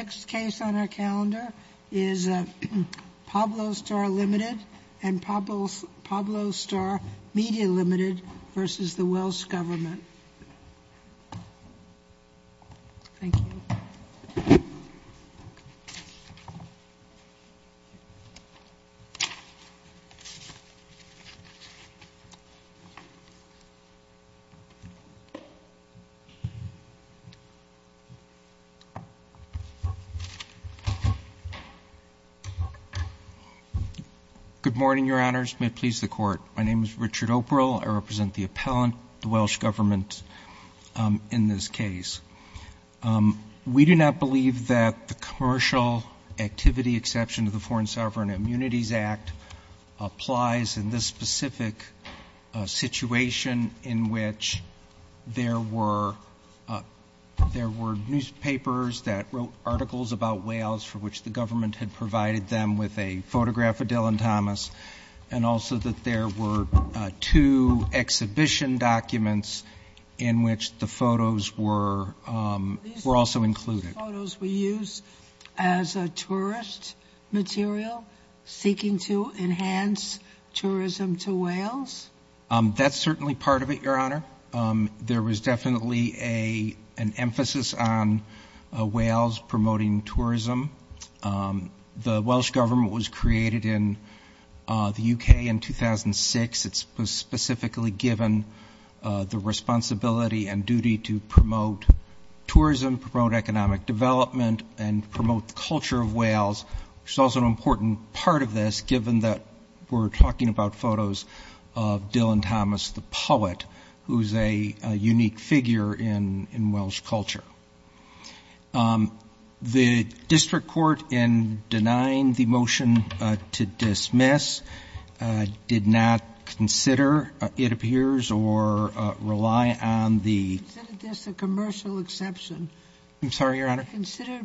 The next case on our calendar is Pablo Star Ltd. v. The Welsh G Good morning, Your Honours. May it please the Court. My name is Richard O'Priel. I represent the appellant, the Welsh Government, in this case. We do not believe that the commercial activity exception to the Foreign Sovereign Immunities Act applies in this specific situation in which there were newspapers that wrote articles about Wales for which the Government had provided them with a photograph of Dylan Thomas, and also that there were two exhibition documents in which the photos were also included. Are these photos we use as a tourist material seeking to enhance tourism to Wales? That's certainly part of it, Your Honour. There was definitely an emphasis on Wales promoting tourism. The Welsh Government was created in the UK in 2006. It was specifically given the responsibility and duty to promote tourism, economic development, and promote the culture of Wales, which is also an important part of this given that we're talking about photos of Dylan Thomas, the poet, who's a unique figure in Welsh culture. The District Court, in denying the motion to dismiss, did not I'm sorry, Your Honour. Consider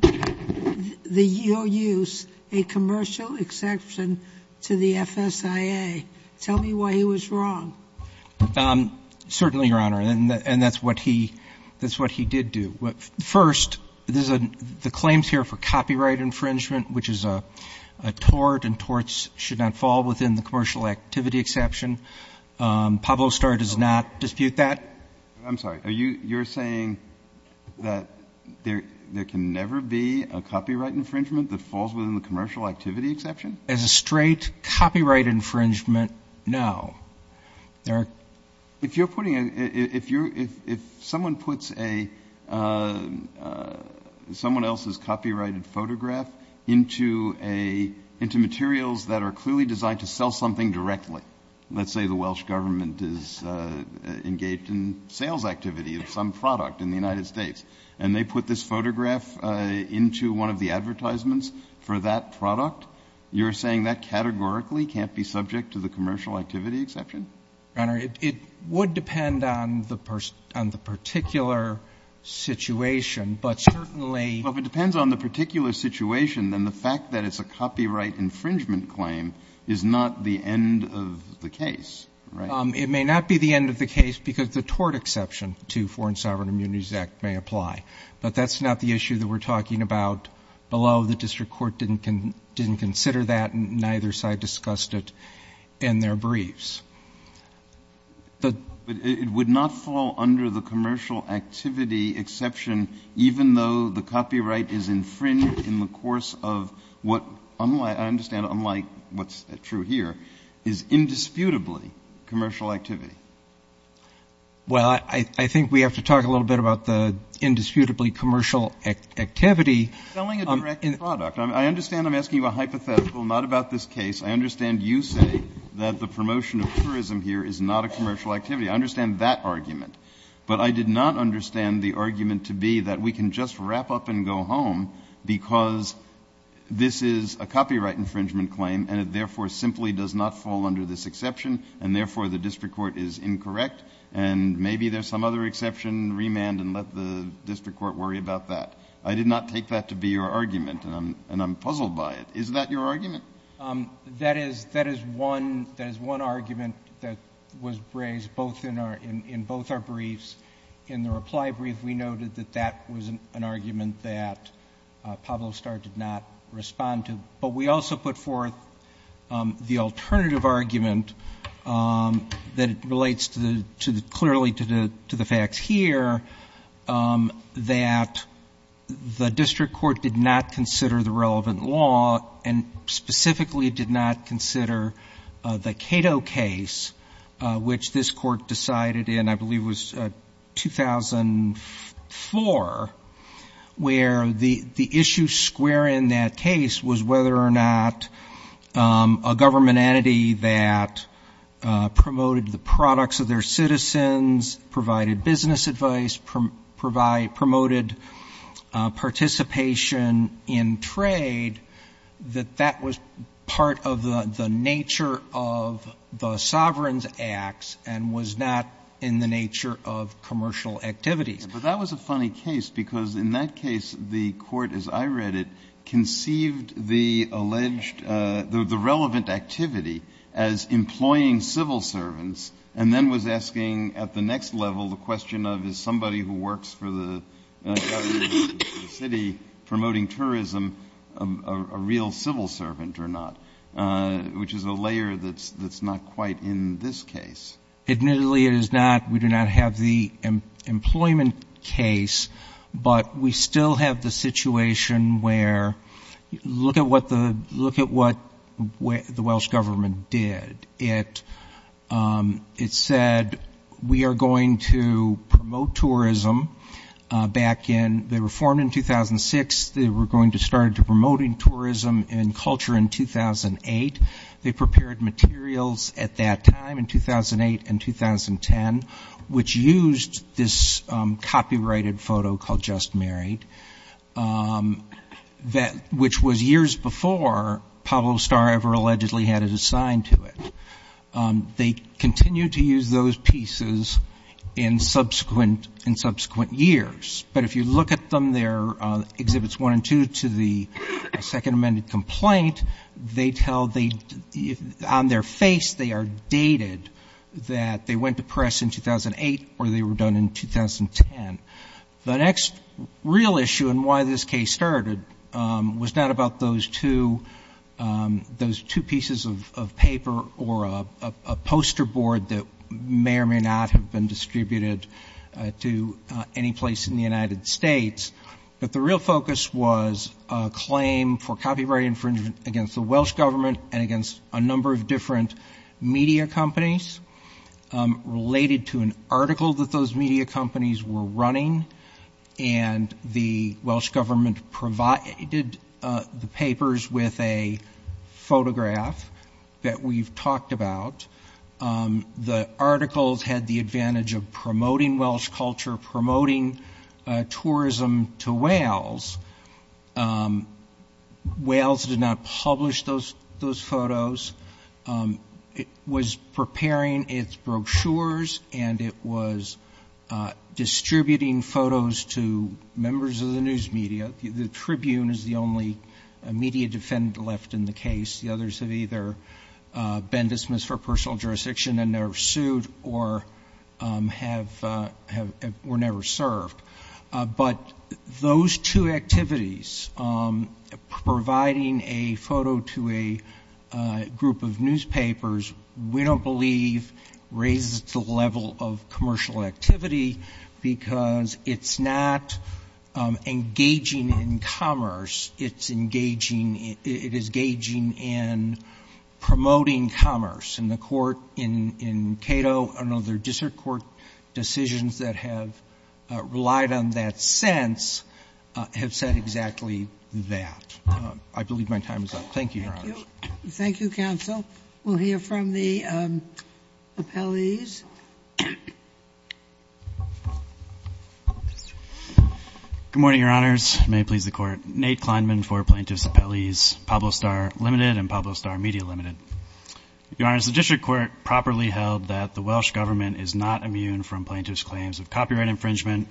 the EOUs a commercial exception to the FSIA. Tell me why he was wrong. Certainly, Your Honour, and that's what he did do. First, the claims here for copyright infringement, which is a tort, and torts should not fall within the commercial activity exception. Pablo Starr does not dispute that. I'm sorry. You're saying that there can never be a copyright infringement that falls within the commercial activity exception? As a straight copyright infringement, no. If someone puts someone else's copyrighted photograph into materials that are clearly designed to sell something directly, let's say the Welsh government is engaged in sales activity of some product in the United States, and they put this photograph into one of the advertisements for that product, you're saying that categorically can't be subject to the commercial activity exception? Your Honour, it would depend on the particular situation, but certainly Well, if it depends on the particular situation, then the fact that it's a copyright infringement claim is not the end of the case, right? It may not be the end of the case, because the tort exception to Foreign Sovereign Immunities Act may apply, but that's not the issue that we're talking about below. The district court didn't consider that, and neither side discussed it in their briefs. It would not fall under the commercial activity exception, even though the copyright is infringed in the course of what I understand, unlike what's true here, is indisputably commercial activity. Well, I think we have to talk a little bit about the indisputably commercial activity. Selling a direct product. I understand I'm asking you a hypothetical, not about this case. I understand you say that the promotion of tourism here is not a commercial activity. I understand that argument, but I did not understand the argument to be that we can just wrap up and go home, because this is a copyright infringement claim, and it therefore simply does not fall under this exception, and therefore the district court is incorrect, and maybe there's some other exception, remand, and let the district court worry about that. I did not take that to be your argument, and I'm puzzled by it. Is that your argument? That is one argument that was raised in both our briefs. In the reply brief, we noted that that was an argument that Pablo Starr did not respond to. But we also put forth the alternative argument that relates clearly to the facts here. That the district court did not consider the relevant law, and specifically did not consider the Cato case, which this court decided in, I believe it was 2004, where the issue square in that case was whether or not a government entity that promoted the products of their citizens, provided business advice, promoted participation in trade, that that was part of the nature of the sovereign's acts and was not in the nature of commercial activities. But that was a funny case, because in that case, the court, as I read it, conceived the alleged, the relevant activity as employing civil servants, and then was asking, at the next level, the question of, is somebody who works for the city promoting tourism a real civil servant or not? Which is a layer that's not quite in this case. Admittedly, it is not. We do not have the employment case, but we still have the situation where, look at what the Welsh government did. It said, we are going to promote tourism. Back in, they were formed in 2006. They were going to start promoting tourism and culture in 2008. They prepared materials at that time, in 2008 and 2010, which used this copyrighted photo called Just Married. Which was years before Pablo Starr ever allegedly had it assigned to it. They continued to use those pieces in subsequent years. But if you look at them, they're exhibits one and two to the second amended complaint. They tell, on their face, they are dated that they went to press in 2008 or they were done in 2010. The next real issue in why this case started was not about those two pieces of paper or a poster board that may or may not have been distributed to any place in the United States. But the real focus was a claim for copyright infringement against the Welsh government and against a number of different media companies related to an article that those media companies were running. And the Welsh government provided the papers with a photograph that we've talked about. The articles had the advantage of promoting Welsh culture, promoting tourism to Wales. Wales did not publish those photos. It was preparing its brochures and it was distributing photos to members of the news media. The Tribune is the only media defendant left in the case. The others have either been dismissed for personal jurisdiction and they're sued or were never served. But those two activities, providing a photo to a group of newspapers, we don't believe raises the level of commercial activity because it's not engaging in commerce. It's engaging, it is gauging in promoting commerce. And the court in Cato and other district court decisions that have relied on that sense have said exactly that. I believe my time is up. Thank you, Your Honor. Thank you, Counsel. We'll hear from the appellees. Good morning, Your Honors. May it please the Court. Nate Kleinman for Plaintiffs' Appellees, Pablo Star Limited and Pablo Star Media Limited. Your Honors, the district court properly held that the Welsh government is not immune from plaintiffs' claims of copyright infringement,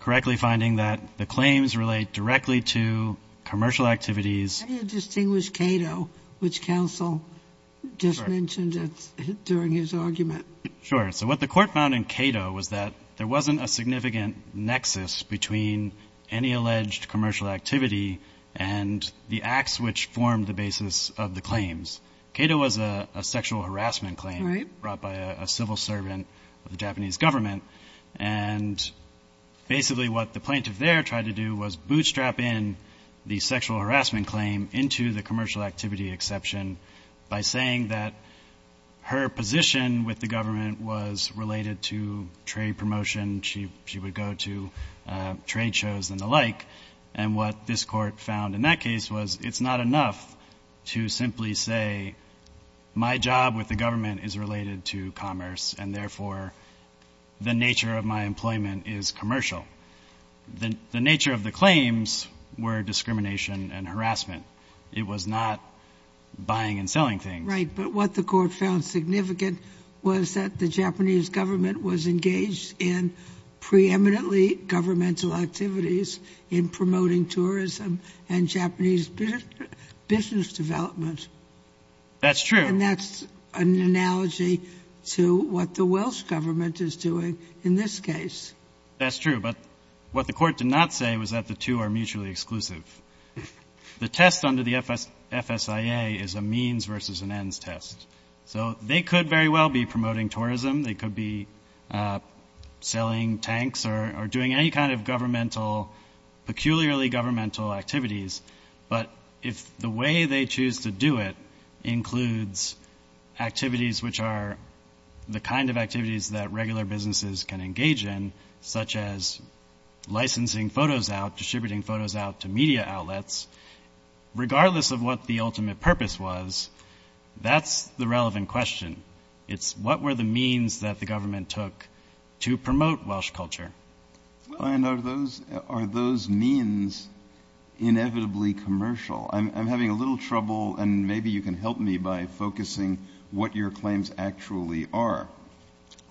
correctly finding that the claims relate directly to commercial activities. How do you distinguish Cato, which Counsel just mentioned during his argument? Sure, so what the court found in Cato was that there wasn't a significant nexus between any alleged commercial activity and the acts which formed the basis of the claims. Cato was a sexual harassment claim brought by a civil servant of the Japanese government. And basically what the plaintiff there tried to do was bootstrap in the sexual harassment claim into the commercial activity exception by saying that her position with the government was related to trade promotion. She would go to trade shows and the like. And what this court found in that case was it's not enough to simply say my job with the government is related to commerce and therefore the nature of my employment is commercial. The nature of the claims were discrimination and harassment. It was not buying and selling things. Right, but what the court found significant was that the Japanese government was engaged in preeminently governmental activities in promoting tourism and Japanese business development. That's true. And that's an analogy to what the Welsh government is doing in this case. That's true, but what the court did not say was that the two are mutually exclusive. The test under the FSIA is a means versus an ends test. So they could very well be promoting tourism. They could be selling tanks or doing any kind of governmental, peculiarly governmental activities, but if the way they choose to do it includes activities which are the kind of activities that regular businesses can engage in, such as licensing photos out, distributing photos out to media outlets, regardless of what the ultimate purpose was, that's the relevant question. It's what were the means that the government took to promote Welsh culture. And are those means inevitably commercial? I'm having a little trouble, and maybe you can help me by focusing what your claims actually are.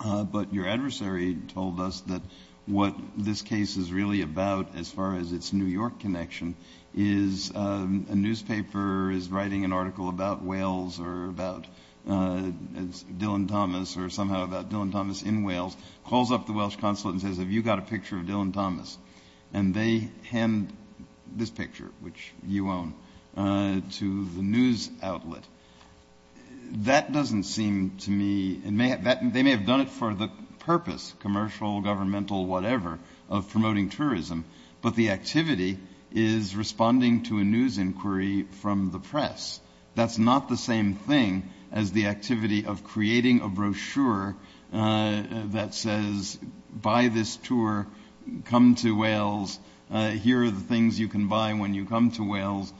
But your adversary told us that what this case is really about, as far as its New York connection, is a newspaper is writing an article about Wales or about Dylan Thomas, or somehow about Dylan Thomas in Wales, calls up the Welsh consulate and says, have you got a picture of Dylan Thomas? And they hand this picture, which you own, to the news outlet. That doesn't seem to me, they may have done it for the purpose, commercial, governmental, whatever, of promoting tourism, but the activity is responding to a news inquiry from the press. That's not the same thing as the activity of creating a brochure that says, buy this tour, come to Wales, here are the things you can buy when you come to Wales.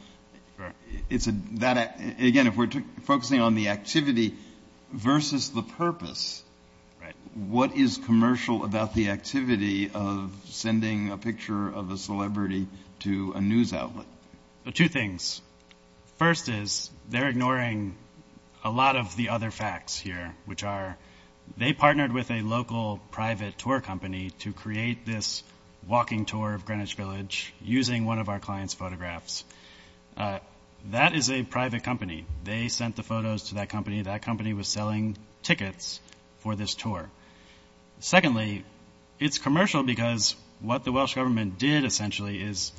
Again, if we're focusing on the activity versus the purpose, what is commercial about the activity of sending a picture of a celebrity to a news outlet? Two things. First is, they're ignoring a lot of the other facts here, which are, they partnered with a local private tour company to create this walking tour of Greenwich Village using one of our client's photographs. That is a private company. They sent the photos to that company, that company was selling tickets for this tour. Secondly, it's commercial because what the Welsh government did, essentially, is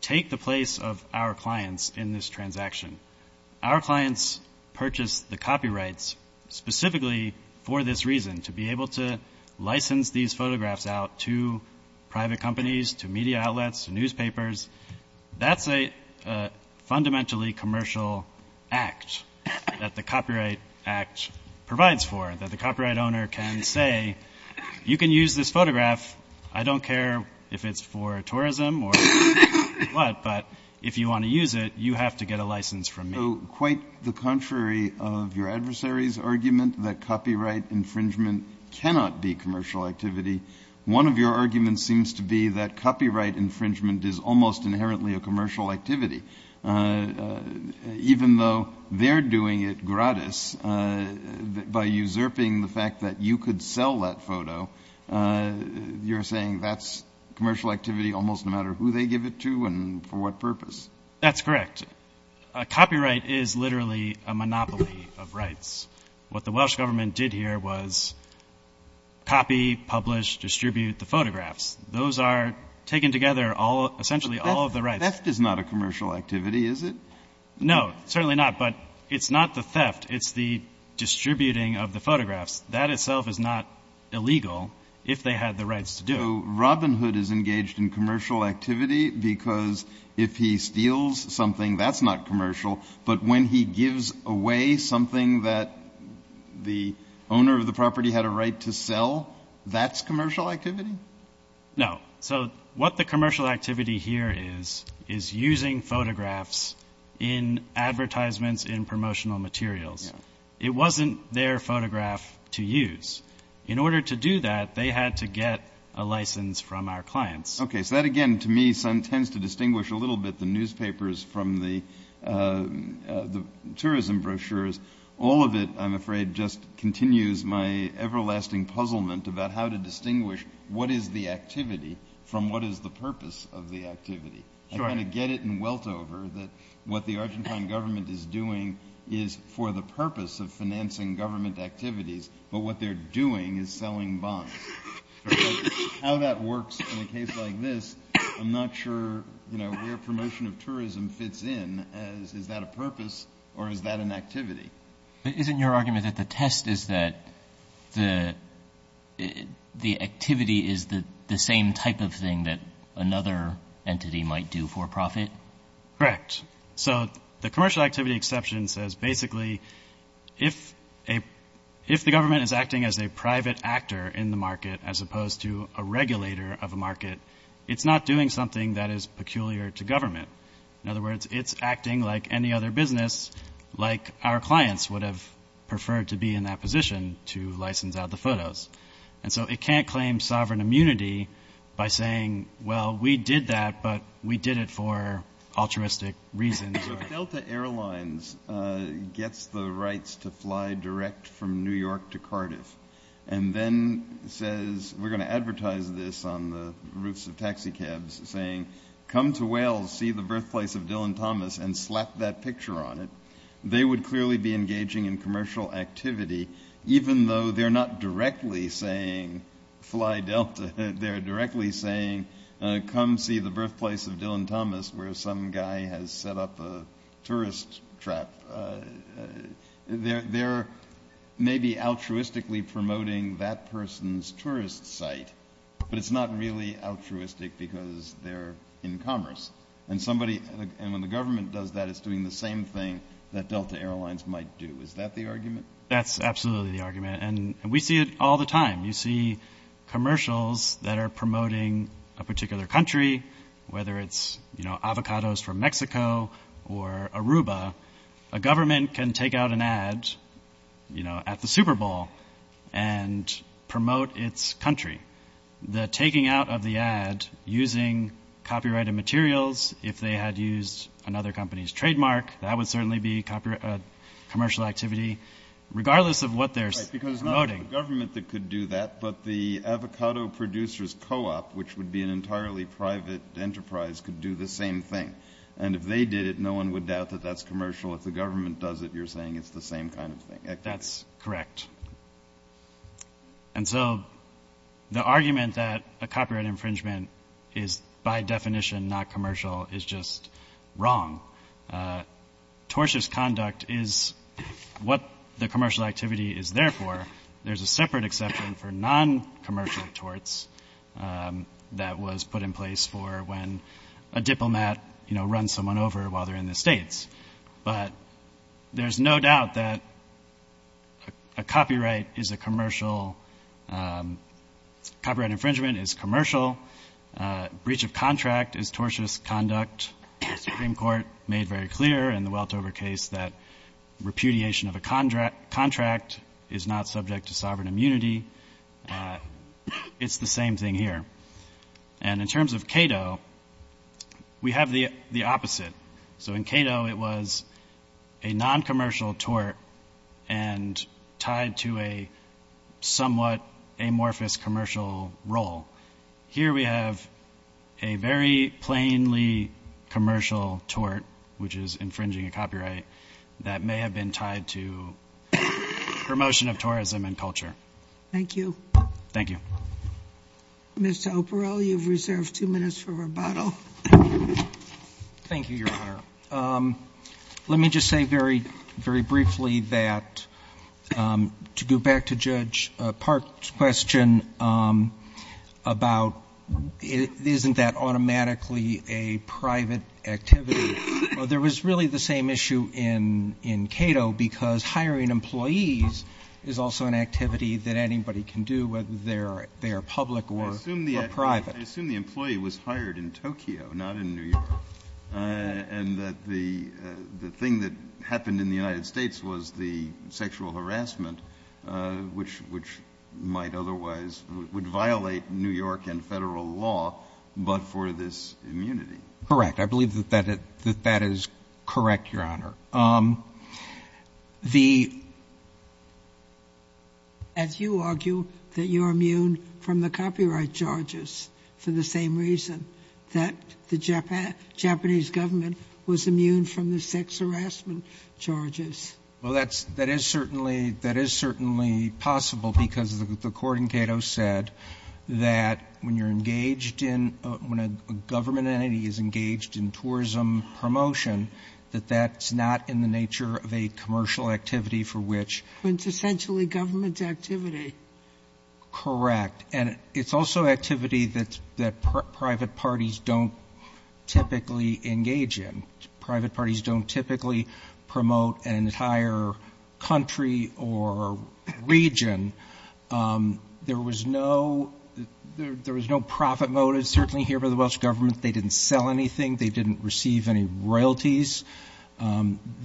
take the place of our clients in this transaction. Our clients purchased the copyrights specifically for this reason, to be able to license these photographs out to private companies, to media outlets, to newspapers. That's a fundamentally commercial act that the Copyright Act provides for, that the copyright owner can say, you can use this photograph, I don't care if it's for tourism or what, but if you want to use it, you have to get a license from me. Quite the contrary of your adversary's argument that copyright infringement cannot be commercial activity, one of your arguments seems to be that copyright infringement is almost inherently a commercial activity. Even though they're doing it gratis, by usurping the fact that you could sell that photo, you're saying that's commercial almost no matter who they give it to and for what purpose. That's correct. Copyright is literally a monopoly of rights. What the Welsh government did here was copy, publish, distribute the photographs. Those are taken together, essentially, all of the rights. Theft is not a commercial activity, is it? No, certainly not, but it's not the theft, it's the distributing of the photographs. That itself is not illegal if they had the rights to do it. Robin Hood is engaged in commercial activity because if he steals something, that's not commercial, but when he gives away something that the owner of the property had a right to sell, that's commercial activity? No. What the commercial activity here is, is using photographs in advertisements, in promotional materials. It wasn't their photograph to use. In order to do that, they had to get a license from our clients. Okay, so that again, to me, tends to distinguish a little bit the newspapers from the tourism brochures. All of it, I'm afraid, just continues my everlasting puzzlement about how distinguish what is the activity from what is the purpose of the activity. I kind of get it and welt over that what the Argentine government is doing is for the purpose of financing government activities, but what they're doing is selling bombs. How that works in a case like this, I'm not sure where promotion of tourism fits in as, is that a purpose or is that an activity? Isn't your argument that the test is that the activity is the same type of thing that another entity might do for profit? Correct. So the commercial activity exception says basically, if the government is acting as a private actor in the market as opposed to a regulator of a market, it's not doing something that is peculiar to government. In other words, it's acting like any other business, like our clients would have preferred to be in that position to license out the photos. And so it can't claim sovereign immunity by saying, well, we did that, but we did it for altruistic reasons. Delta Airlines gets the rights to fly direct from New York to Cardiff and then says, we're going to advertise this on the roofs of taxicabs saying, come to that picture on it. They would clearly be engaging in commercial activity, even though they're not directly saying fly Delta. They're directly saying, come see the birthplace of Dylan Thomas, where some guy has set up a tourist trap. They're maybe altruistically promoting that person's tourist site, but it's not really altruistic because they're in commerce. And when the same thing that Delta Airlines might do, is that the argument? That's absolutely the argument. And we see it all the time. You see commercials that are promoting a particular country, whether it's avocados from Mexico or Aruba, a government can take out an ad at the Super Bowl and promote its country. The taking out of the ad using copyrighted materials, if they had used another company's trademark, that would certainly be commercial activity, regardless of what they're promoting. Because it's not the government that could do that, but the avocado producers co-op, which would be an entirely private enterprise, could do the same thing. And if they did it, no one would doubt that that's commercial. If the government does it, you're saying it's the same kind of thing. That's correct. And so the argument that a copyright infringement is by definition not commercial is just wrong. Tortious conduct is what the commercial activity is there for. There's a separate exception for non-commercial torts that was put in place for when a diplomat, you know, runs someone over while they're in the States. But there's no doubt that a copyright is a commercial, copyright infringement is commercial. Breach of contract is tortious conduct. The Supreme Court made very clear in the Weltover case that repudiation of a contract is not subject to sovereign immunity. It's the same thing here. And in terms of Cato, we have the opposite. So in Cato, it was a non-commercial tort and tied to a somewhat amorphous commercial role. Here we have a very plainly commercial tort, which is infringing a copyright, that may have been tied to promotion of tourism and culture. Thank you. Thank you. Mr. O'Parrell, you've reserved two minutes for rebuttal. Thank you, Your Honor. Let me just say very briefly that, to go back to Judge Park's question about isn't that automatically a private activity? Well, there was really the same issue in Cato because hiring employees is also an activity that anybody can do, whether they are public or private. I assume the employee was hired in Tokyo, not in New York. And that the thing that happened in the United States was the sexual harassment, which might otherwise violate New York and federal law, but for this immunity. Correct. I believe that that is correct, Your Honor. As you argue that you're immune from the copyright charges for the same reason that the Japanese government was immune from the sex harassment charges. Well, that is certainly possible because the court in Cato said that when you're engaged in, when a government entity is not in the nature of a commercial activity for which. It's essentially government activity. Correct. And it's also activity that private parties don't typically engage in. Private parties don't typically promote an entire country or region. There was no profit motive, certainly here by the Welsh government. They didn't sell anything. They didn't receive any money.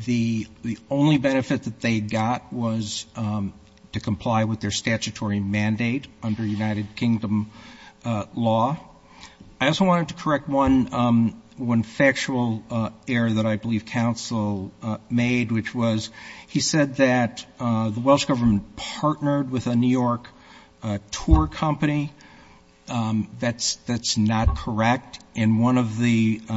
The only benefit that they got was to comply with their statutory mandate under United Kingdom law. I also wanted to correct one factual error that I believe counsel made, which was he said that the Welsh government partnered with a New York tour company. That's not correct. In one of the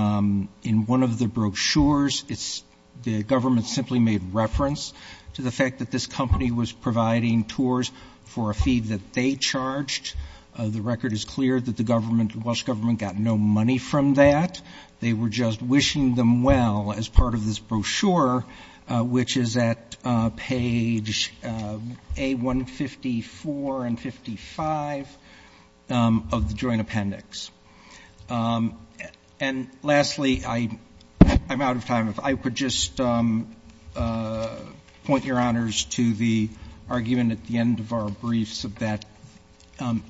brochures, it's the government simply made reference to the fact that this company was providing tours for a fee that they charged. The record is clear that the Welsh government got no money from that. They were just wishing them well as part of this brochure, which is at page A154 and 55 of the joint appendix. And lastly, I'm out of time. If I could just point your honors to the argument at the end of our briefs of that.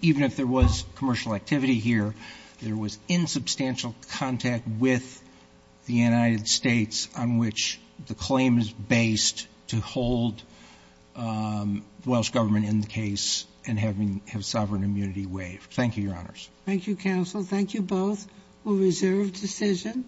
Even if there was commercial activity here, there was insubstantial contact with the United States on which the claim is based to hold Welsh government in the case and have sovereign immunity waived. Thank you, your honors. Thank you, counsel. Thank you both. We'll reserve decision.